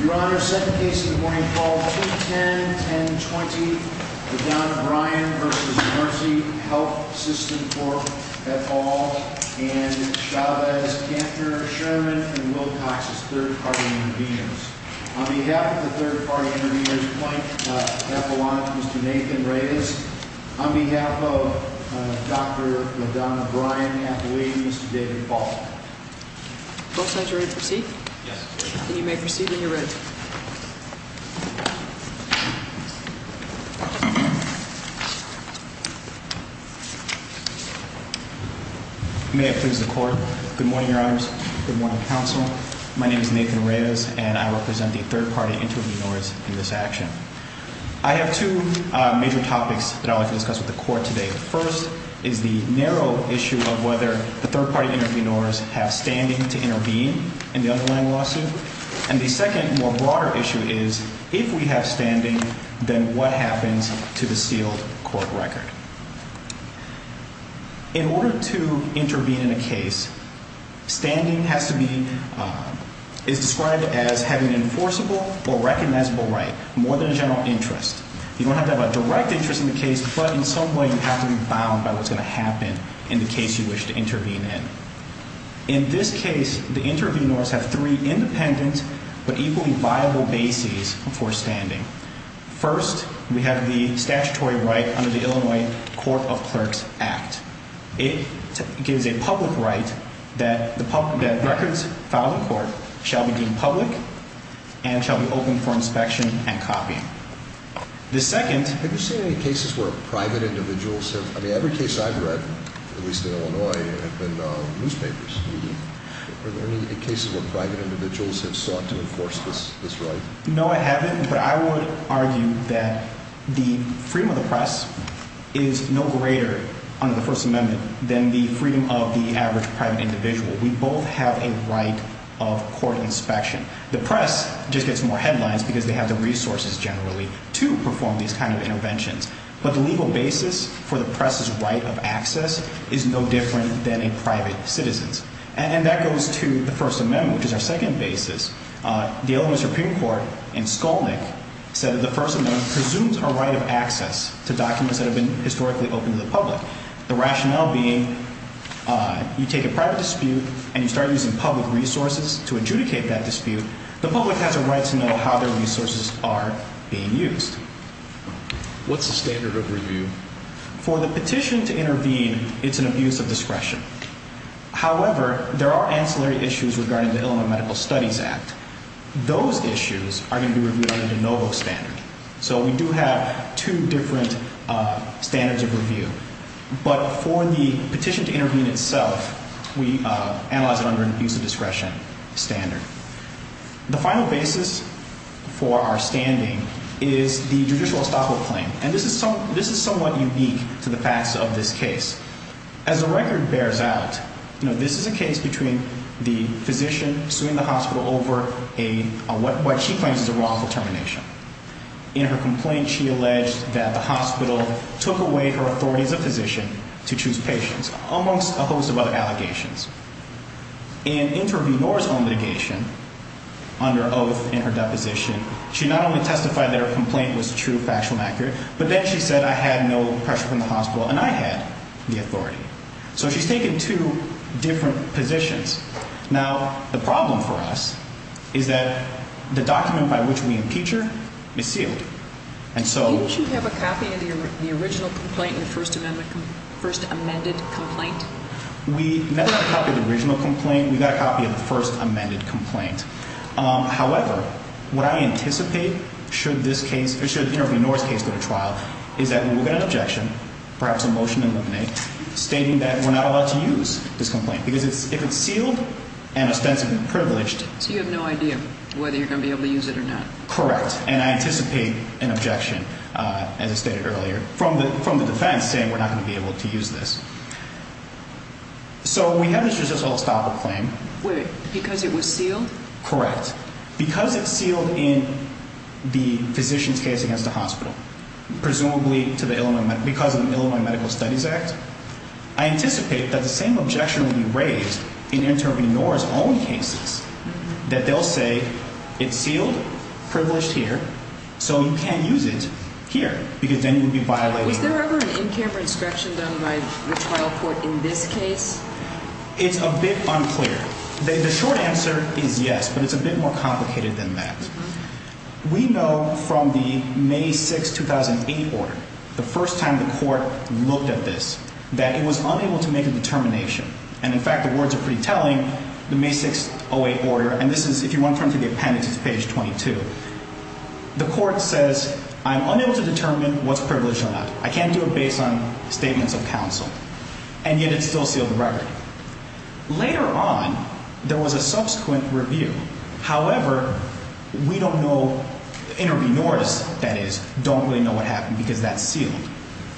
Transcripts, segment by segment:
Your Honor, second case of the morning, Fall 2010-1020, Madonna Brian v. Mercy Health System Corp. et al. and Chavez, Gantner, Sherman, and Wilcox's third-party interventions. On behalf of the third-party interviewers, point at Mr. Nathan Reyes. On behalf of Dr. Madonna Brian, Kathleen, Mr. David Fault. Both sides are ready to proceed? Yes. Then you may proceed when you're ready. May it please the Court. Good morning, Your Honors. Good morning, Counsel. My name is Nathan Reyes, and I represent the third-party intervenors in this action. I have two major topics that I would like to discuss with the Court today. The first is the narrow issue of whether the third-party intervenors have standing to intervene in the underlying lawsuit. And the second, more broader issue, is if we have standing, then what happens to the sealed court record? In order to intervene in a case, standing has to be – is described as having an enforceable or recognizable right, more than a general interest. You don't have to have a direct interest in the case, but in some way you have to be bound by what's going to happen in the case you wish to intervene in. In this case, the intervenors have three independent but equally viable bases for standing. First, we have the statutory right under the Illinois Court of Clerks Act. It gives a public right that records filed in court shall be deemed public and shall be open for inspection and copying. The second – Have you seen any cases where private individuals have – I mean, every case I've read, at least in Illinois, have been newspapers. Are there any cases where private individuals have sought to enforce this right? No, I haven't, but I would argue that the freedom of the press is no greater under the First Amendment than the freedom of the average private individual. We both have a right of court inspection. The press just gets more headlines because they have the resources, generally, to perform these kind of interventions. But the legal basis for the press's right of access is no different than a private citizen's. And that goes to the First Amendment, which is our second basis. The Illinois Supreme Court in Skolnik said that the First Amendment presumes a right of access to documents that have been historically open to the public, the rationale being you take a private dispute and you start using public resources to adjudicate that dispute, the public has a right to know how their resources are being used. What's the standard of review? For the petition to intervene, it's an abuse of discretion. However, there are ancillary issues regarding the Illinois Medical Studies Act. Those issues are going to be reviewed under the NOVO standard. So we do have two different standards of review. But for the petition to intervene itself, we analyze it under an abuse of discretion standard. The final basis for our standing is the judicial estoppel claim. And this is somewhat unique to the facts of this case. As the record bears out, this is a case between the physician suing the hospital over what she claims is a wrongful termination. In her complaint, she alleged that the hospital took away her authority as a physician to choose patients, amongst a host of other allegations. In intervenor's own litigation, under oath in her deposition, she not only testified that her complaint was true, factual, and accurate, but then she said, I had no pressure from the hospital and I had the authority. So she's taken two different positions. Now, the problem for us is that the document by which we impeach her is sealed. Don't you have a copy of the original complaint and the first amended complaint? We never have a copy of the original complaint. We've got a copy of the first amended complaint. However, what I anticipate should this case or should the intervenor's case go to trial is that we will get an objection, perhaps a motion to eliminate, stating that we're not allowed to use this complaint. Because if it's sealed and ostensibly privileged. So you have no idea whether you're going to be able to use it or not? Correct. And I anticipate an objection, as I stated earlier, from the defense saying we're not going to be able to use this. So we have this judicial estoppel claim. Wait, because it was sealed? Correct. Because it's sealed in the physician's case against the hospital, presumably because of the Illinois Medical Studies Act. I anticipate that the same objection will be raised in intervenor's own cases, that they'll say it's sealed, privileged here, so you can't use it here, because then you'll be violating. Was there ever an in-camera inspection done by the trial court in this case? It's a bit unclear. The short answer is yes, but it's a bit more complicated than that. We know from the May 6, 2008 order, the first time the court looked at this, that it was unable to make a determination. And, in fact, the words are pretty telling, the May 6, 2008 order, and this is, if you want to turn to the appendix, it's page 22. The court says, I'm unable to determine what's privileged or not. I can't do it based on statements of counsel. And yet it still sealed the record. Later on, there was a subsequent review. However, we don't know, intervenors, that is, don't really know what happened, because that's sealed.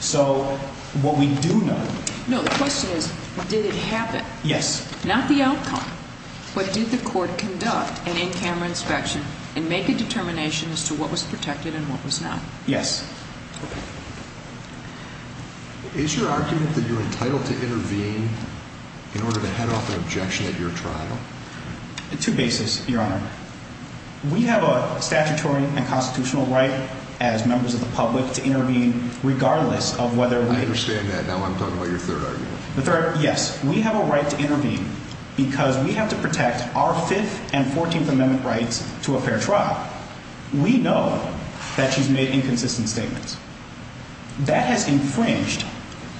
So, what we do know. No, the question is, did it happen? Yes. Not the outcome, but did the court conduct an in-camera inspection and make a determination as to what was protected and what was not? Yes. Is your argument that you're entitled to intervene in order to head off an objection at your trial? Two bases, Your Honor. We have a statutory and constitutional right, as members of the public, to intervene regardless of whether we... I understand that. Now I'm talking about your third argument. The third, yes. We have a right to intervene because we have to protect our Fifth and Fourteenth Amendment rights to a fair trial. We know that she's made inconsistent statements. That has infringed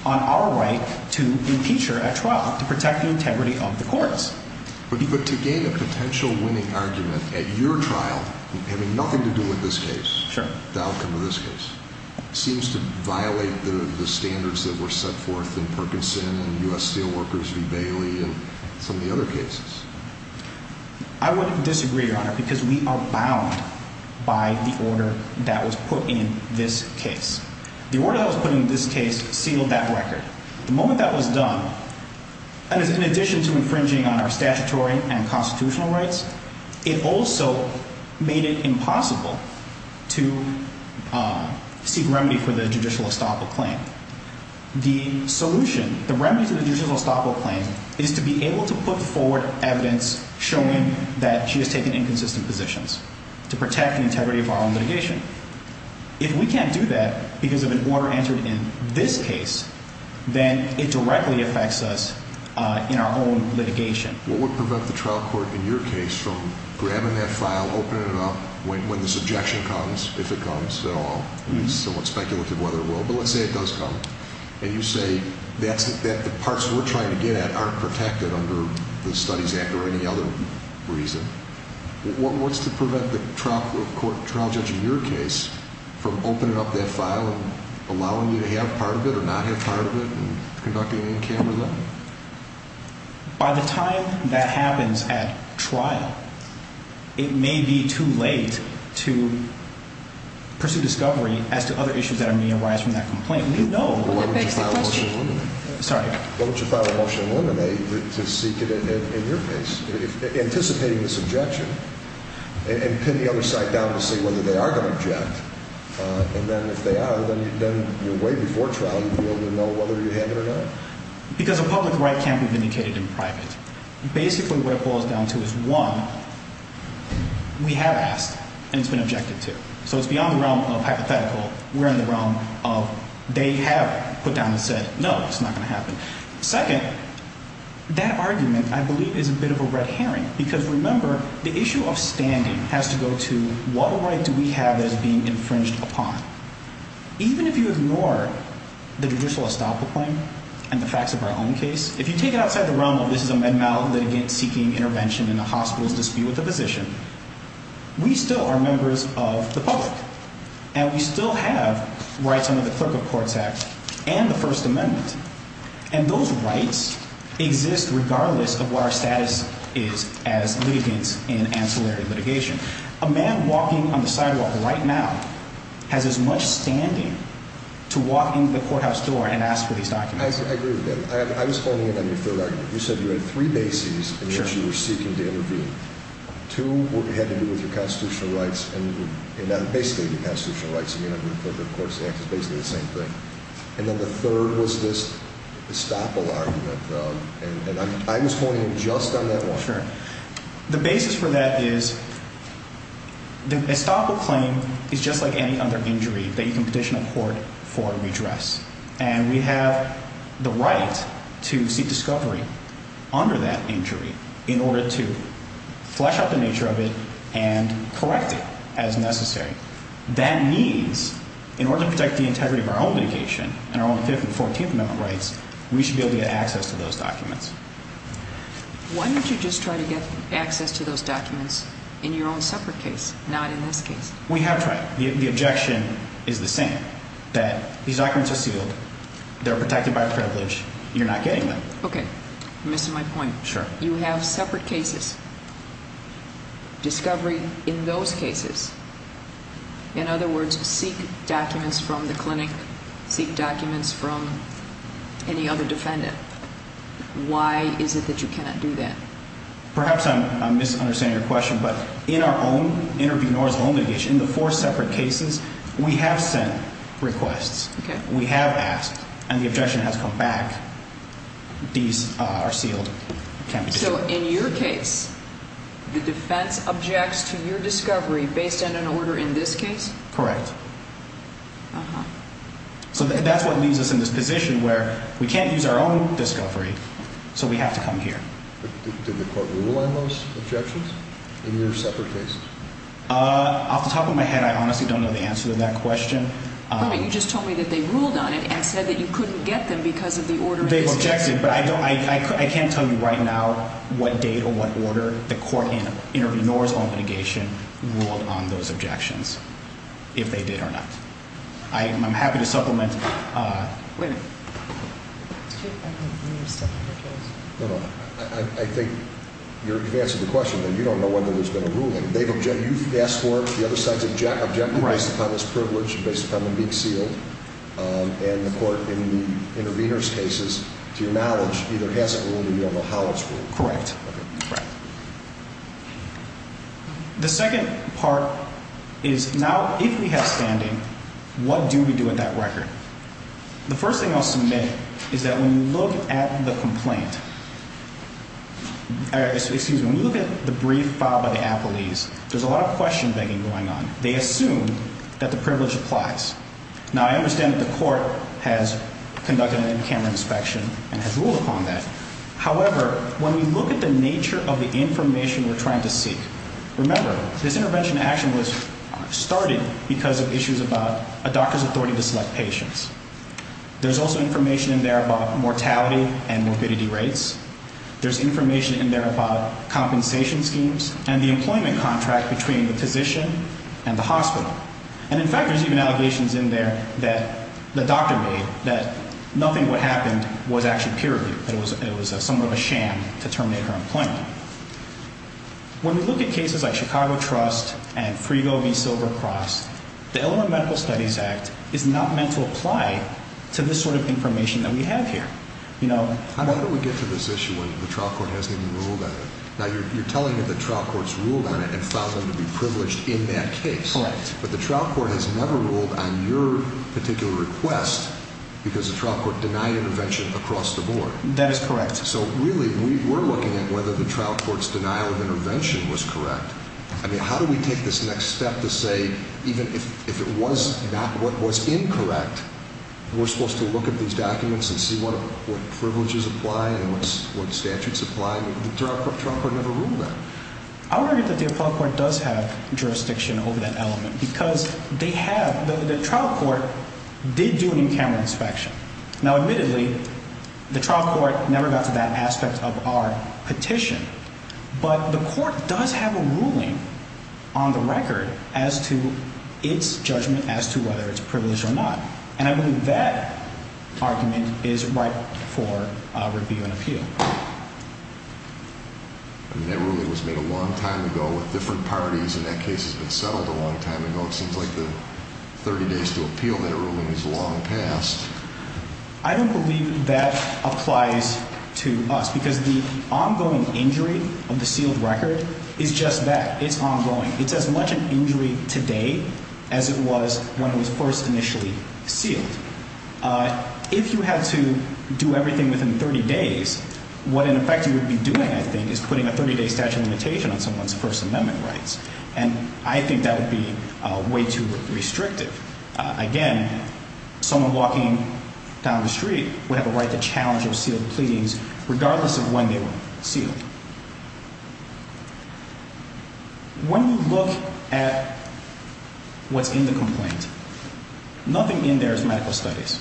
on our right to impeach her at trial, to protect the integrity of the courts. But to gain a potential winning argument at your trial, having nothing to do with this case, the outcome of this case, seems to violate the standards that were set forth in Perkinson and U.S. Steelworkers v. Bailey and some of the other cases. I would disagree, Your Honor, because we are bound by the order that was put in this case. The order that was put in this case sealed that record. The moment that was done, in addition to infringing on our statutory and constitutional rights, it also made it impossible to seek remedy for the judicial estoppel claim. The solution, the remedy to the judicial estoppel claim, is to be able to put forward evidence showing that she has taken inconsistent positions to protect the integrity of our own litigation. If we can't do that because of an order entered in this case, then it directly affects us in our own litigation. What would prevent the trial court in your case from grabbing that file, opening it up, when this objection comes, if it comes at all, it's somewhat speculative whether it will, but let's say it does come, and you say that the parts we're trying to get at aren't protected under the Studies Act or any other reason, what's to prevent the trial court, trial judge in your case, from opening up that file and allowing you to have part of it or not have part of it and conducting an in-camera look? By the time that happens at trial, it may be too late to pursue discovery as to other issues that may arise from that complaint. We know... Well, that begs the question. Sorry. Why don't you file a motion to eliminate to seek it in your case, anticipating this objection, and pin the other side down to see whether they are going to object, and then if they are, then way before trial you'll be able to know whether you have it or not. Because a public right can't be vindicated in private. Basically what it boils down to is, one, we have asked, and it's been objected to. So it's beyond the realm of hypothetical. We're in the realm of they have put down and said, no, it's not going to happen. Second, that argument, I believe, is a bit of a red herring because, remember, the issue of standing has to go to what right do we have that is being infringed upon? Even if you ignore the judicial estoppel claim and the facts of our own case, if you take it outside the realm of this is a menmal litigant seeking intervention in a hospital's dispute with a physician, we still are members of the public, and we still have rights under the Clerk of Courts Act and the First Amendment, and those rights exist regardless of what our status is as litigants in ancillary litigation. A man walking on the sidewalk right now has as much standing to walk into the courthouse door and ask for these documents. I agree with that. I was honing in on your third argument. You said you had three bases in which you were seeking to intervene. Two had to do with your constitutional rights, and basically the constitutional rights of the Clerk of Courts Act is basically the same thing. And then the third was this estoppel argument. And I was honing in just on that one. The basis for that is the estoppel claim is just like any other injury that you can petition a court for redress, and we have the right to seek discovery under that injury in order to flesh out the nature of it and correct it as necessary. That means in order to protect the integrity of our own litigation and our own Fifth and Fourteenth Amendment rights, we should be able to get access to those documents. Why don't you just try to get access to those documents in your own separate case, not in this case? We have tried. The objection is the same, that these documents are sealed. They're protected by privilege. You're not getting them. Okay. You're missing my point. Sure. You have separate cases. Discovery in those cases, in other words, seek documents from the clinic, seek documents from any other defendant. Why is it that you cannot do that? Perhaps I'm misunderstanding your question, but in our own inter-venorial litigation, the four separate cases, we have sent requests. Okay. We have asked, and the objection has come back. These are sealed. So in your case, the defense objects to your discovery based on an order in this case? Correct. Uh-huh. So that's what leaves us in this position where we can't use our own discovery, so we have to come here. Did the court rule on those objections in your separate cases? Off the top of my head, I honestly don't know the answer to that question. You just told me that they ruled on it and said that you couldn't get them because of the order in this case. They've objected, but I can't tell you right now what date or what order the court in inter-venorial litigation ruled on those objections, if they did or not. I'm happy to supplement. Wait a minute. I think you're advancing the question, but you don't know whether there's been a ruling. You've asked for the other side's objection based upon this privilege, based upon them being sealed, and the court in the inter-venor's cases, to your knowledge, either hasn't ruled or you don't know how it's ruled. Correct. Okay. The second part is now, if we have standing, what do we do with that record? The first thing I'll submit is that when you look at the brief filed by the appellees, there's a lot of question-begging going on. They assume that the privilege applies. Now, I understand that the court has conducted an in-camera inspection and has ruled upon that. However, when we look at the nature of the information we're trying to seek, remember, this intervention action was started because of issues about a doctor's authority to select patients. There's also information in there about mortality and morbidity rates. There's information in there about compensation schemes and the employment contract between the physician and the hospital. And, in fact, there's even allegations in there that the doctor made that nothing that happened was actually peer review. It was somewhat of a sham to terminate her employment. When we look at cases like Chicago Trust and Frigo v. Silvercross, the Illinois Medical Studies Act is not meant to apply to this sort of information that we have here. How do we get to this issue when the trial court hasn't even ruled on it? Now, you're telling me the trial court's ruled on it and found them to be privileged in that case. Correct. But the trial court has never ruled on your particular request because the trial court denied intervention across the board. That is correct. So, really, when we were looking at whether the trial court's denial of intervention was correct, I mean, how do we take this next step to say even if it was not what was incorrect, we're supposed to look at these documents and see what privileges apply and what statutes apply. The trial court never ruled on it. I would argue that the appellate court does have jurisdiction over that element because they have – the trial court did do an in-camera inspection. Now, admittedly, the trial court never got to that aspect of our petition. But the court does have a ruling on the record as to its judgment as to whether it's privileged or not, and I believe that argument is ripe for review and appeal. I mean, that ruling was made a long time ago with different parties, and that case has been settled a long time ago. It seems like the 30 days to appeal that ruling is long past. I don't believe that applies to us because the ongoing injury of the sealed record is just that. It's ongoing. It's as much an injury today as it was when it was first initially sealed. If you had to do everything within 30 days, what, in effect, you would be doing, I think, is putting a 30-day statute of limitation on someone's First Amendment rights, and I think that would be way too restrictive. Again, someone walking down the street would have a right to challenge those sealed pleadings regardless of when they were sealed. When you look at what's in the complaint, nothing in there is medical studies.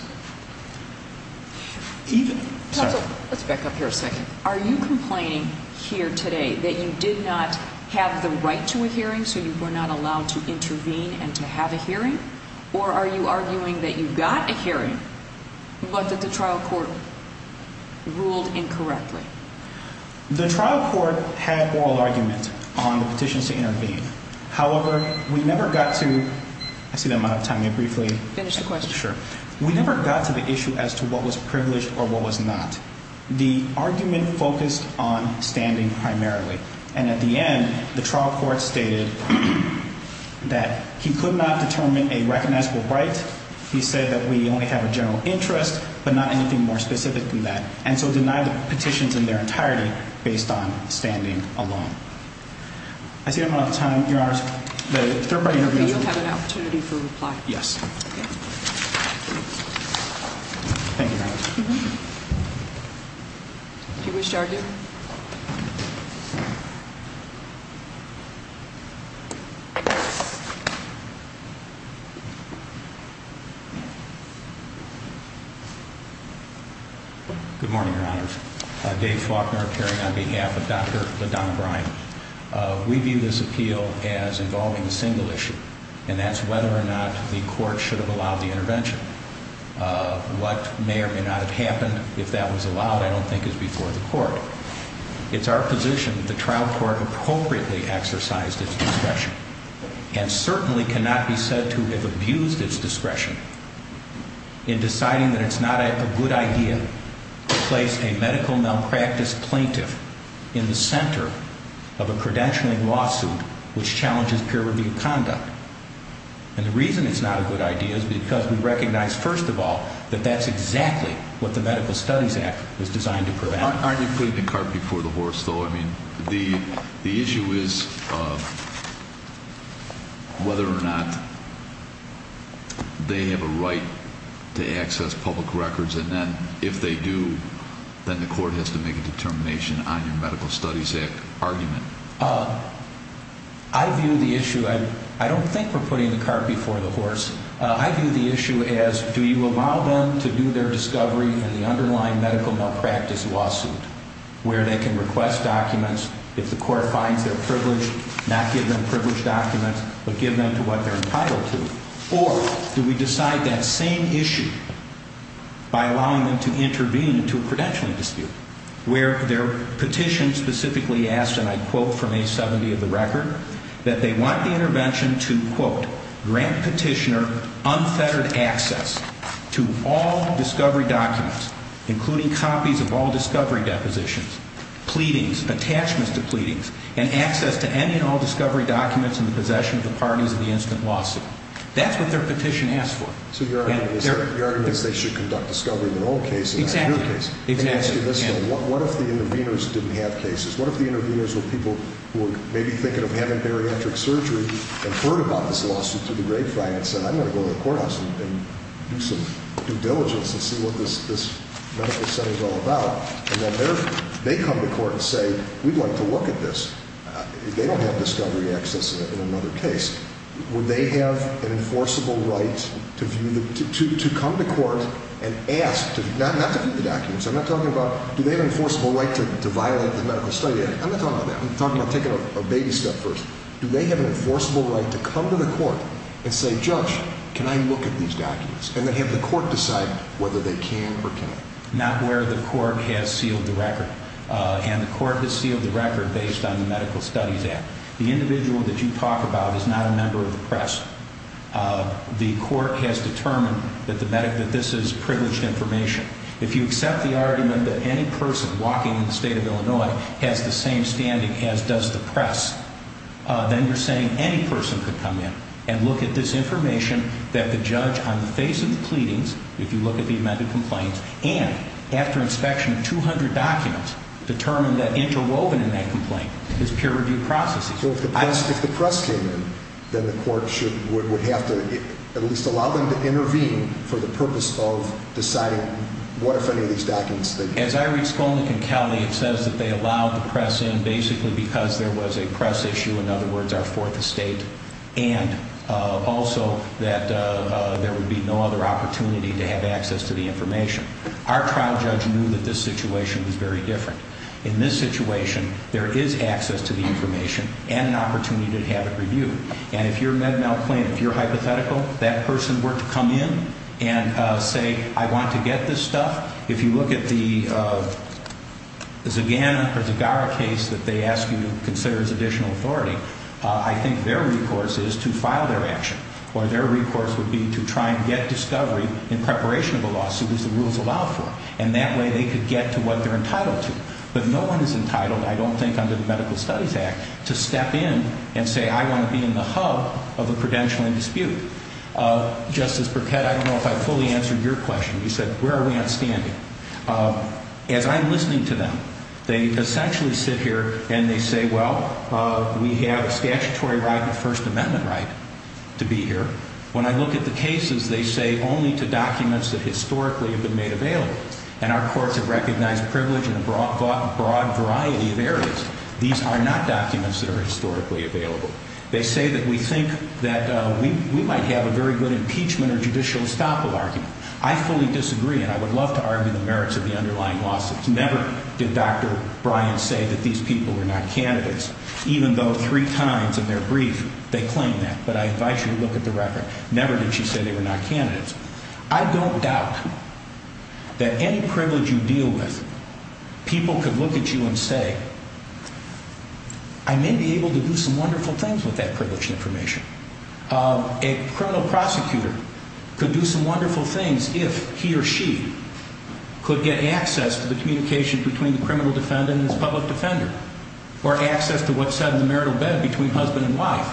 Let's back up here a second. Are you complaining here today that you did not have the right to a hearing, so you were not allowed to intervene and to have a hearing? Or are you arguing that you got a hearing, but that the trial court ruled incorrectly? The trial court had oral argument on the petitions to intervene. However, we never got to the issue as to what was privileged or what was not. The argument focused on standing primarily, and at the end, the trial court stated that he could not determine a recognizable right. He said that we only have a general interest, but not anything more specific than that, and so denied the petitions in their entirety based on standing alone. I see I'm running out of time, Your Honors. The third part of your interview is over. Okay. You'll have an opportunity for reply. Yes. Okay. Thank you, Your Honors. Do you wish to argue? Good morning, Your Honors. Dave Faulkner appearing on behalf of Dr. LaDonna Bryant. We view this appeal as involving a single issue, and that's whether or not the court should have allowed the intervention. What may or may not have happened, if that was allowed, I don't think is before the court. It's our position that the trial court appropriately exercised its discretion and certainly cannot be said to have abused its discretion in deciding that it's not a good idea to place a medical malpractice plaintiff in the center of a credentialing lawsuit which challenges peer-reviewed conduct. And the reason it's not a good idea is because we recognize, first of all, that that's exactly what the Medical Studies Act was designed to prevent. Aren't you putting the cart before the horse, though? I mean, the issue is whether or not they have a right to access public records, and then if they do, then the court has to make a determination on your Medical Studies Act argument. I view the issue – I don't think we're putting the cart before the horse. I view the issue as do you allow them to do their discovery in the underlying medical malpractice lawsuit where they can request documents if the court finds them privileged, not give them privileged documents, but give them to what they're entitled to? Or do we decide that same issue by allowing them to intervene into a credentialing dispute where their petition specifically asks, and I quote from A-70 of the record, that they want the intervention to, quote, grant petitioner unfettered access to all discovery documents, including copies of all discovery depositions, pleadings, attachments to pleadings, and access to any and all discovery documents in the possession of the parties of the incident lawsuit. That's what their petition asks for. So your argument is they should conduct discovery in their own case and not your case. Exactly. And ask you this, though. What if the interveners didn't have cases? What if the interveners were people who were maybe thinking of having bariatric surgery and heard about this lawsuit through the grapevine and said, I'm going to go to the courthouse and do some due diligence and see what this medical center is all about, and then they come to court and say, we'd like to look at this. They don't have discovery access in another case. Would they have an enforceable right to come to court and ask, not to view the documents. I'm not talking about do they have an enforceable right to violate the Medical Studies Act. I'm not talking about that. I'm talking about taking a baby step first. Do they have an enforceable right to come to the court and say, judge, can I look at these documents, and then have the court decide whether they can or can't? Not where the court has sealed the record. And the court has sealed the record based on the Medical Studies Act. The individual that you talk about is not a member of the press. The court has determined that this is privileged information. If you accept the argument that any person walking in the state of Illinois has the same standing as does the press, then you're saying any person could come in and look at this information that the judge, on the face of the pleadings, if you look at the amended complaints, and after inspection, 200 documents, determined that interwoven in that complaint is peer-reviewed processing. So if the press came in, then the court would have to at least allow them to intervene for the purpose of deciding what, if any, of these documents that you have. As I read Skolnick and Kelly, it says that they allowed the press in basically because there was a press issue, in other words, our fourth estate, and also that there would be no other opportunity to have access to the information. Our trial judge knew that this situation was very different. In this situation, there is access to the information and an opportunity to have it reviewed. And if your Med-Mal claim, if you're hypothetical, that person were to come in and say, I want to get this stuff, if you look at the Zagana or Zagara case that they ask you to consider as additional authority, I think their recourse is to file their action. Or their recourse would be to try and get discovery in preparation of a lawsuit as the rules allow for. And that way they could get to what they're entitled to. But no one is entitled, I don't think under the Medical Studies Act, to step in and say, I want to be in the hub of a credentialing dispute. Justice Burkett, I don't know if I fully answered your question. You said, where are we on standing? As I'm listening to them, they essentially sit here and they say, well, we have a statutory right and a First Amendment right to be here. When I look at the cases, they say only to documents that historically have been made available. And our courts have recognized privilege in a broad variety of areas. These are not documents that are historically available. They say that we think that we might have a very good impeachment or judicial estoppel argument. I fully disagree, and I would love to argue the merits of the underlying lawsuits. Never did Dr. Bryant say that these people were not candidates, even though three times in their brief they claim that. But I advise you to look at the record. Never did she say they were not candidates. I don't doubt that any privilege you deal with, people could look at you and say, I may be able to do some wonderful things with that privilege information. A criminal prosecutor could do some wonderful things if he or she could get access to the communication between the criminal defendant and his public defender. Or access to what's said in the marital bed between husband and wife.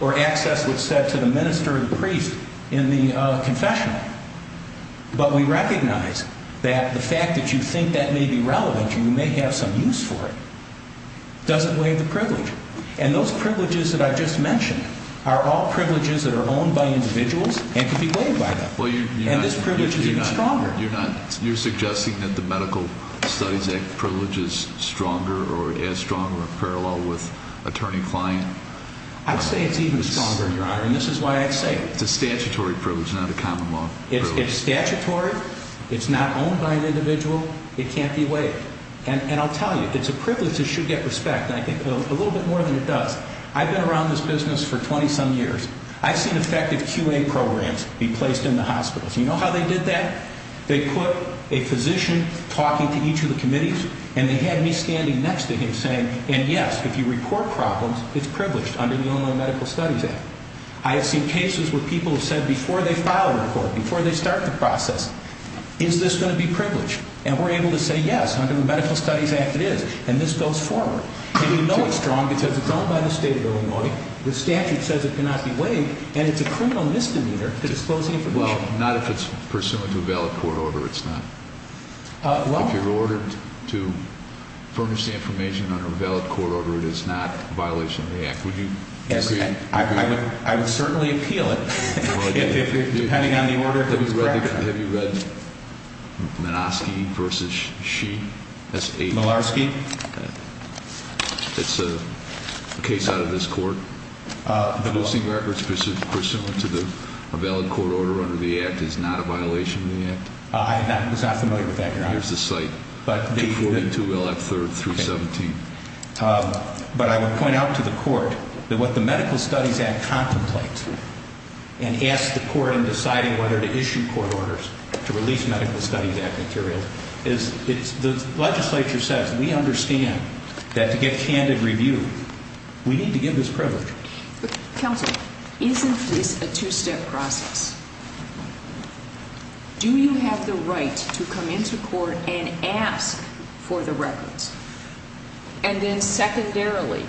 Or access to what's said to the minister and priest in the confessional. But we recognize that the fact that you think that may be relevant, you may have some use for it, doesn't waive the privilege. And those privileges that I just mentioned are all privileges that are owned by individuals and can be waived by them. And this privilege is even stronger. You're suggesting that the Medical Studies Act privilege is stronger or as strong or parallel with attorney-client? I would say it's even stronger, Your Honor. And this is why I say it. It's a statutory privilege, not a common law privilege. It's statutory. It's not owned by an individual. It can't be waived. And I'll tell you, it's a privilege that should get respect. And I think a little bit more than it does. I've been around this business for 20-some years. I've seen effective QA programs be placed in the hospitals. You know how they did that? They put a physician talking to each of the committees, and they had me standing next to him saying, and, yes, if you report problems, it's privileged under the Illinois Medical Studies Act. I have seen cases where people have said before they file a report, before they start the process, is this going to be privileged? And we're able to say, yes, under the Medical Studies Act it is. And this goes forward. And we know it's strong because it's owned by the state of Illinois. The statute says it cannot be waived. And it's a criminal misdemeanor to disclose information. Well, not if it's pursuant to a valid court order. It's not. Well. If you're ordered to furnish the information under a valid court order, it is not a violation of the act. Would you agree? I would certainly appeal it, depending on the order. Have you read Malarski v. Shee? Malarski? It's a case out of this court. Producing records pursuant to a valid court order under the act is not a violation of the act? I was not familiar with that, Your Honor. Here's the site. But I would point out to the court that what the Medical Studies Act contemplates and asks the court in deciding whether to issue court orders to release Medical Studies Act material, the legislature says we understand that to get candid review, we need to give this privilege. Counsel, isn't this a two-step process? Do you have the right to come into court and ask for the records? And then secondarily,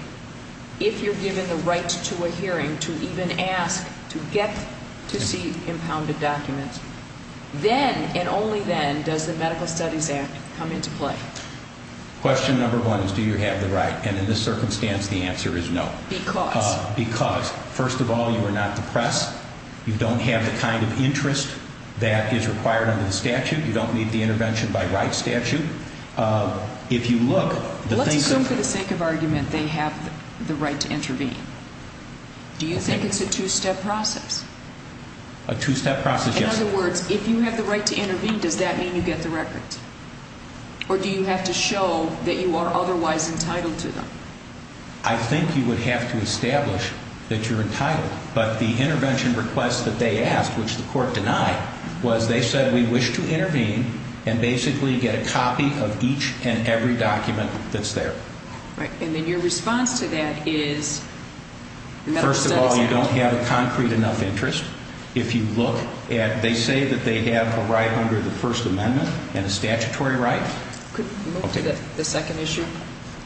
if you're given the right to a hearing to even ask to get to see impounded documents, then and only then does the Medical Studies Act come into play. Question number one is do you have the right? And in this circumstance, the answer is no. Because? Because, first of all, you are not the press. You don't have the kind of interest that is required under the statute. You don't need the intervention by right statute. Let's assume for the sake of argument they have the right to intervene. Do you think it's a two-step process? A two-step process, yes. In other words, if you have the right to intervene, does that mean you get the records? Or do you have to show that you are otherwise entitled to them? I think you would have to establish that you're entitled. But the intervention request that they asked, which the court denied, was they said we wish to intervene and basically get a copy of each and every document that's there. Right. And then your response to that is the Medical Studies Act? Well, you don't have a concrete enough interest. If you look at, they say that they have a right under the First Amendment and a statutory right. Could we move to the second issue?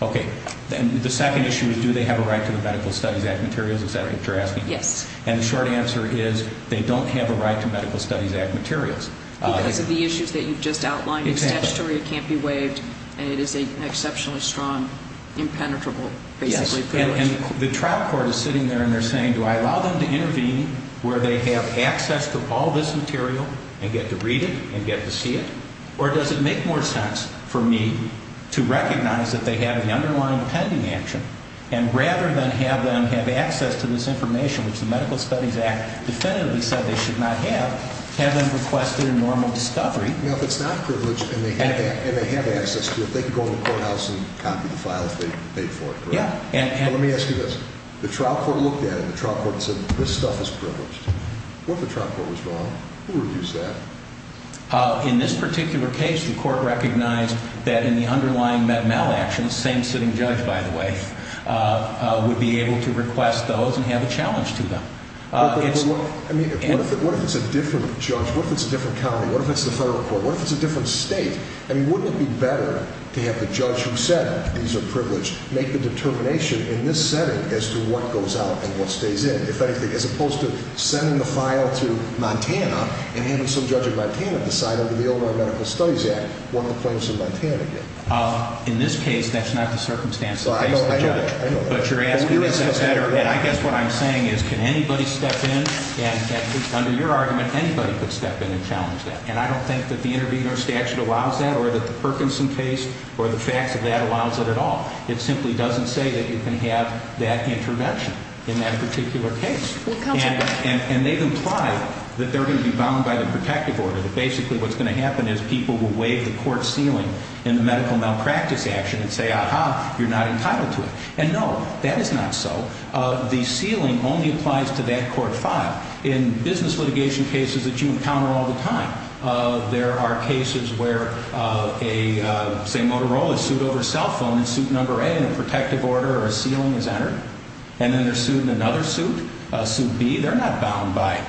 Okay. The second issue is do they have a right to the Medical Studies Act materials, is that what you're asking? Yes. And the short answer is they don't have a right to Medical Studies Act materials. Because of the issues that you've just outlined. Exactly. It's statutory, it can't be waived, and it is an exceptionally strong, impenetrable, basically, privilege. And the trial court is sitting there and they're saying, do I allow them to intervene where they have access to all this material and get to read it and get to see it? Or does it make more sense for me to recognize that they have an underlying pending action and rather than have them have access to this information, which the Medical Studies Act definitively said they should not have, have them request their normal discovery? Well, if it's not privileged and they have access to it, they can go in the courthouse and copy the files they've paid for it, correct? Yeah. Let me ask you this. The trial court looked at it and the trial court said this stuff is privileged. What if the trial court was wrong? Who would use that? In this particular case, the court recognized that in the underlying met-mal action, the same sitting judge, by the way, would be able to request those and have a challenge to them. But look, what if it's a different judge? What if it's a different county? What if it's the federal court? What if it's a different state? I mean, wouldn't it be better to have the judge who said these are privileged make the determination in this setting as to what goes out and what stays in, if anything, as opposed to sending the file to Montana and having some judge in Montana decide under the underlying Medical Studies Act what the claims in Montana get? In this case, that's not the circumstance that pays the judge. I know that. But you're asking if it's better. And I guess what I'm saying is can anybody step in? And under your argument, anybody could step in and challenge that. And I don't think that the intervenor statute allows that or that the Perkinson case or the facts of that allows it at all. It simply doesn't say that you can have that intervention in that particular case. And they've implied that they're going to be bound by the protective order, that basically what's going to happen is people will wave the court ceiling in the medical malpractice action and say, aha, you're not entitled to it. And no, that is not so. The ceiling only applies to that court file. In business litigation cases that you encounter all the time, there are cases where, say, Motorola is sued over a cell phone and suit number A in a protective order or a ceiling is entered, and then they're sued in another suit, suit B. They're not bound by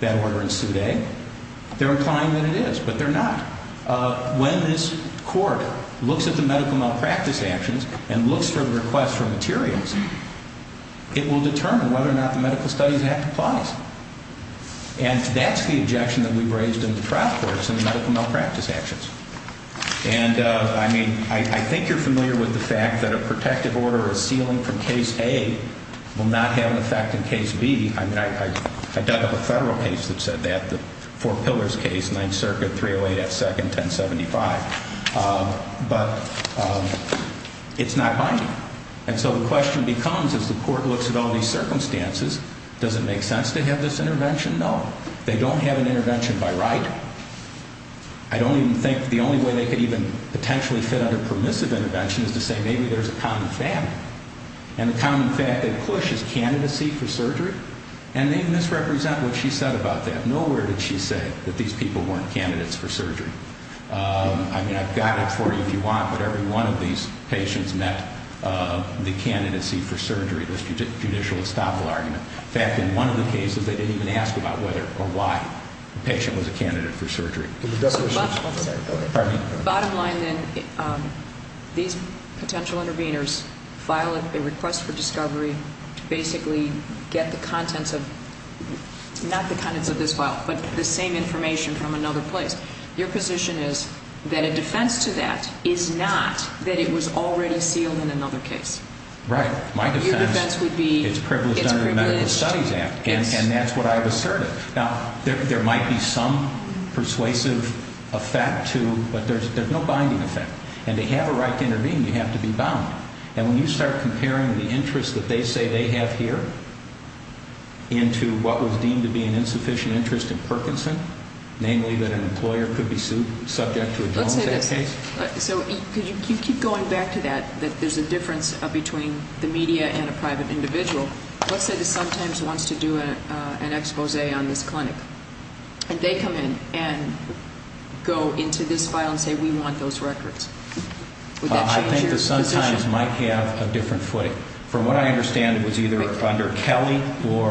that order in suit A. They're implying that it is, but they're not. When this court looks at the medical malpractice actions and looks for the request for materials, it will determine whether or not the medical studies act applies. And that's the objection that we've raised in the trial courts in the medical malpractice actions. And, I mean, I think you're familiar with the fact that a protective order or a ceiling from case A will not have an effect in case B. I mean, I dug up a federal case that said that, the Four Pillars case, 9th Circuit, 308 F. Second, 1075. But it's not binding. And so the question becomes, as the court looks at all these circumstances, does it make sense to have this intervention? No. They don't have an intervention by right. I don't even think the only way they could even potentially fit under permissive intervention is to say maybe there's a common fact. And the common fact that push is candidacy for surgery. And they misrepresent what she said about that. I mean, I've got it for you if you want, but every one of these patients met the candidacy for surgery, the judicial estoppel argument. In fact, in one of the cases, they didn't even ask about whether or why the patient was a candidate for surgery. Bottom line then, these potential interveners file a request for discovery to basically get the contents of, not the contents of this file, but the same information from another place. Your position is that a defense to that is not that it was already sealed in another case. Right. My defense would be it's privileged under the Medical Studies Act. And that's what I've asserted. Now, there might be some persuasive effect to, but there's no binding effect. And to have a right to intervene, you have to be bound. And when you start comparing the interest that they say they have here into what was deemed to be an insufficient interest in Perkinson, namely that an employer could be subject to a domestic case. Let's say this. So you keep going back to that, that there's a difference between the media and a private individual. Let's say that Suntimes wants to do an expose on this clinic. And they come in and go into this file and say, we want those records. Would that change your position? Well, I think that Suntimes might have a different footing. From what I understand, it was either under Kelly or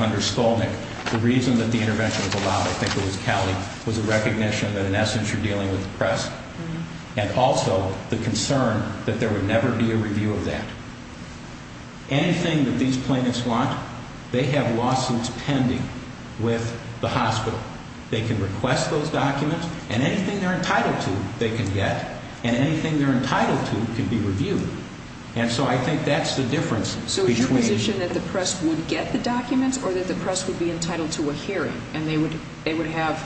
under Skolnick. The reason that the intervention was allowed, I think it was Kelly, was a recognition that, in essence, you're dealing with the press. And also the concern that there would never be a review of that. Anything that these plaintiffs want, they have lawsuits pending with the hospital. They can request those documents, and anything they're entitled to, they can get. And anything they're entitled to can be reviewed. And so I think that's the difference between. Is it your position that the press would get the documents or that the press would be entitled to a hearing? And they would have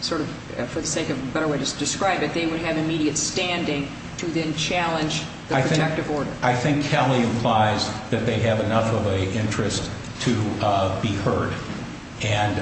sort of, for the sake of a better way to describe it, they would have immediate standing to then challenge the protective order. I think Kelly implies that they have enough of an interest to be heard. And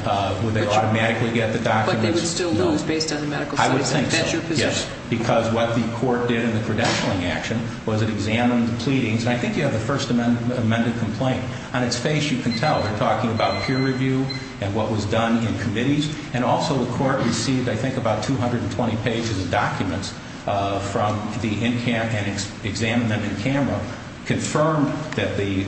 would they automatically get the documents? But they would still lose based on the medical side. I would think so, yes. Because what the court did in the credentialing action was it examined the pleadings. And I think you have the first amended complaint. On its face, you can tell they're talking about peer review and what was done in committees. And also the court received, I think, about 220 pages of documents from the examinant in camera, confirmed that the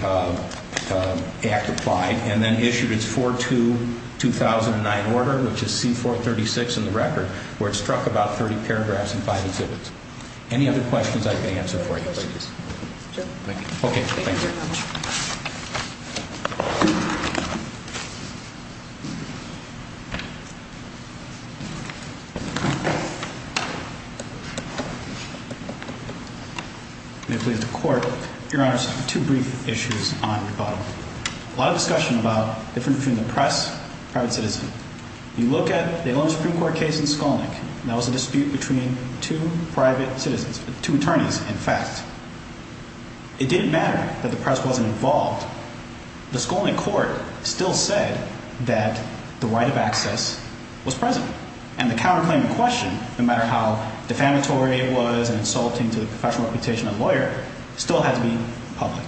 act applied, and then issued its 4-2-2009 order, which is C-436 in the record, where it struck about 30 paragraphs and five exhibits. Any other questions I can answer for you, please? Sure. Thank you. Okay. Thank you very much. May it please the Court. Your Honors, two brief issues on rebuttal. A lot of discussion about difference between the press and private citizen. You look at the Illinois Supreme Court case in Skolnick, and that was a dispute between two private citizens, two attorneys, in fact. It didn't matter that the press wasn't involved. The Skolnick court still said that the right of access was present. And the counterclaim in question, no matter how defamatory it was and insulting to the professional reputation of a lawyer, still had to be public.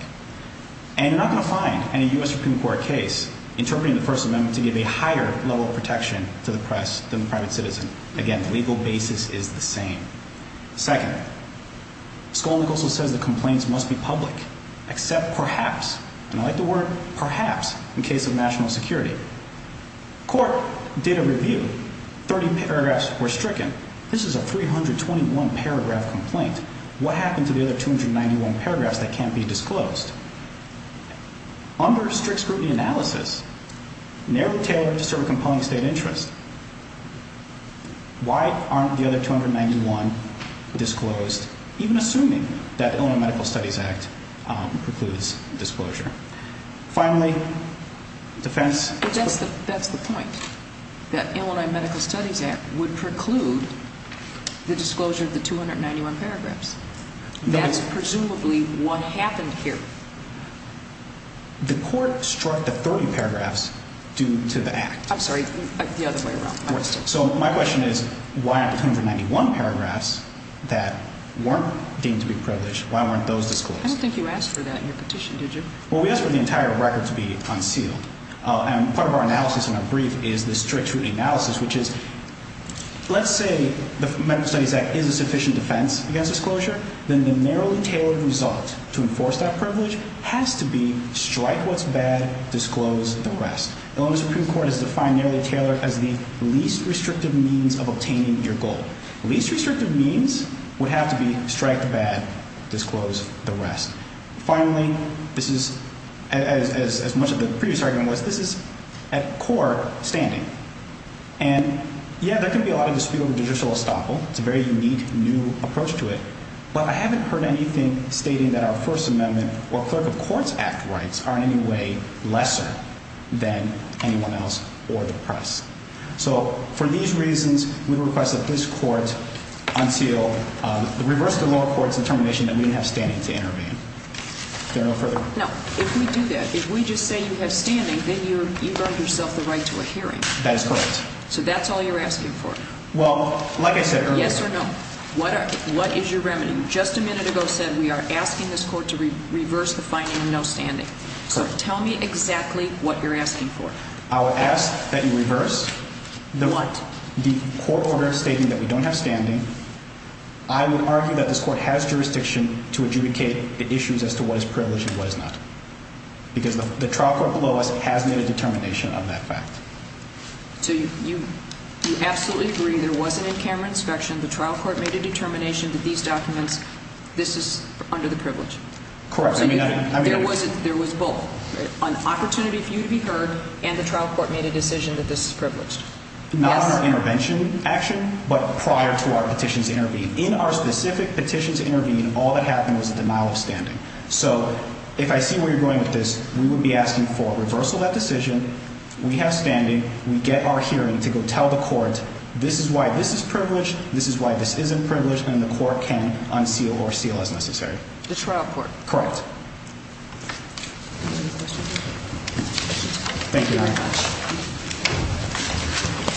And you're not going to find any U.S. Supreme Court case interpreting the First Amendment to give a higher level of protection to the press than the private citizen. Again, the legal basis is the same. Second, Skolnick also says the complaints must be public, except perhaps, and I like the word perhaps, in case of national security. Court did a review. Thirty paragraphs were stricken. This is a 321-paragraph complaint. What happened to the other 291 paragraphs that can't be disclosed? Under strict scrutiny analysis, narrowly tailored to serve a compelling state interest, why aren't the other 291 disclosed, even assuming that Illinois Medical Studies Act precludes disclosure? Finally, defense. That's the point, that Illinois Medical Studies Act would preclude the disclosure of the 291 paragraphs. That's presumably what happened here. The court struck the 30 paragraphs due to the act. I'm sorry, the other way around. So my question is, why aren't the 291 paragraphs that weren't deemed to be privileged, why weren't those disclosed? I don't think you asked for that in your petition, did you? Well, we asked for the entire record to be unsealed. And part of our analysis in our brief is the strict scrutiny analysis, which is, let's say the Medical Studies Act is a sufficient defense against disclosure, then the narrowly tailored result to enforce that privilege has to be strike what's bad, disclose the rest. Illinois Supreme Court has defined narrowly tailored as the least restrictive means of obtaining your goal. The least restrictive means would have to be strike the bad, disclose the rest. Finally, this is, as much as the previous argument was, this is at core standing. And, yeah, there can be a lot of dispute over judicial estoppel. It's a very unique, new approach to it. But I haven't heard anything stating that our First Amendment or Clerk of Courts Act rights are in any way lesser than anyone else or the press. So for these reasons, we request that this court unseal, reverse the lower court's determination that we have standing to intervene. Is there no further? No, if we do that, if we just say you have standing, then you've earned yourself the right to a hearing. That is correct. So that's all you're asking for. Well, like I said earlier. Yes or no. What is your remedy? You just a minute ago said we are asking this court to reverse the finding of no standing. So tell me exactly what you're asking for. I would ask that you reverse the court order stating that we don't have standing. I would argue that this court has jurisdiction to adjudicate the issues as to what is privileged and what is not. Because the trial court below us has made a determination of that fact. So you absolutely agree there was an in-camera inspection, the trial court made a determination that these documents, this is under the privilege. Correct. There was both. An opportunity for you to be heard and the trial court made a decision that this is privileged. Not on our intervention action, but prior to our petitions intervened. In our specific petitions intervened, all that happened was a denial of standing. So if I see where you're going with this, we would be asking for a reversal of that decision. We have standing. We get our hearing to go tell the court, this is why this is privileged. This is why this isn't privileged. And the court can unseal or seal as necessary. The trial court. Correct. Thank you very much. Thank you.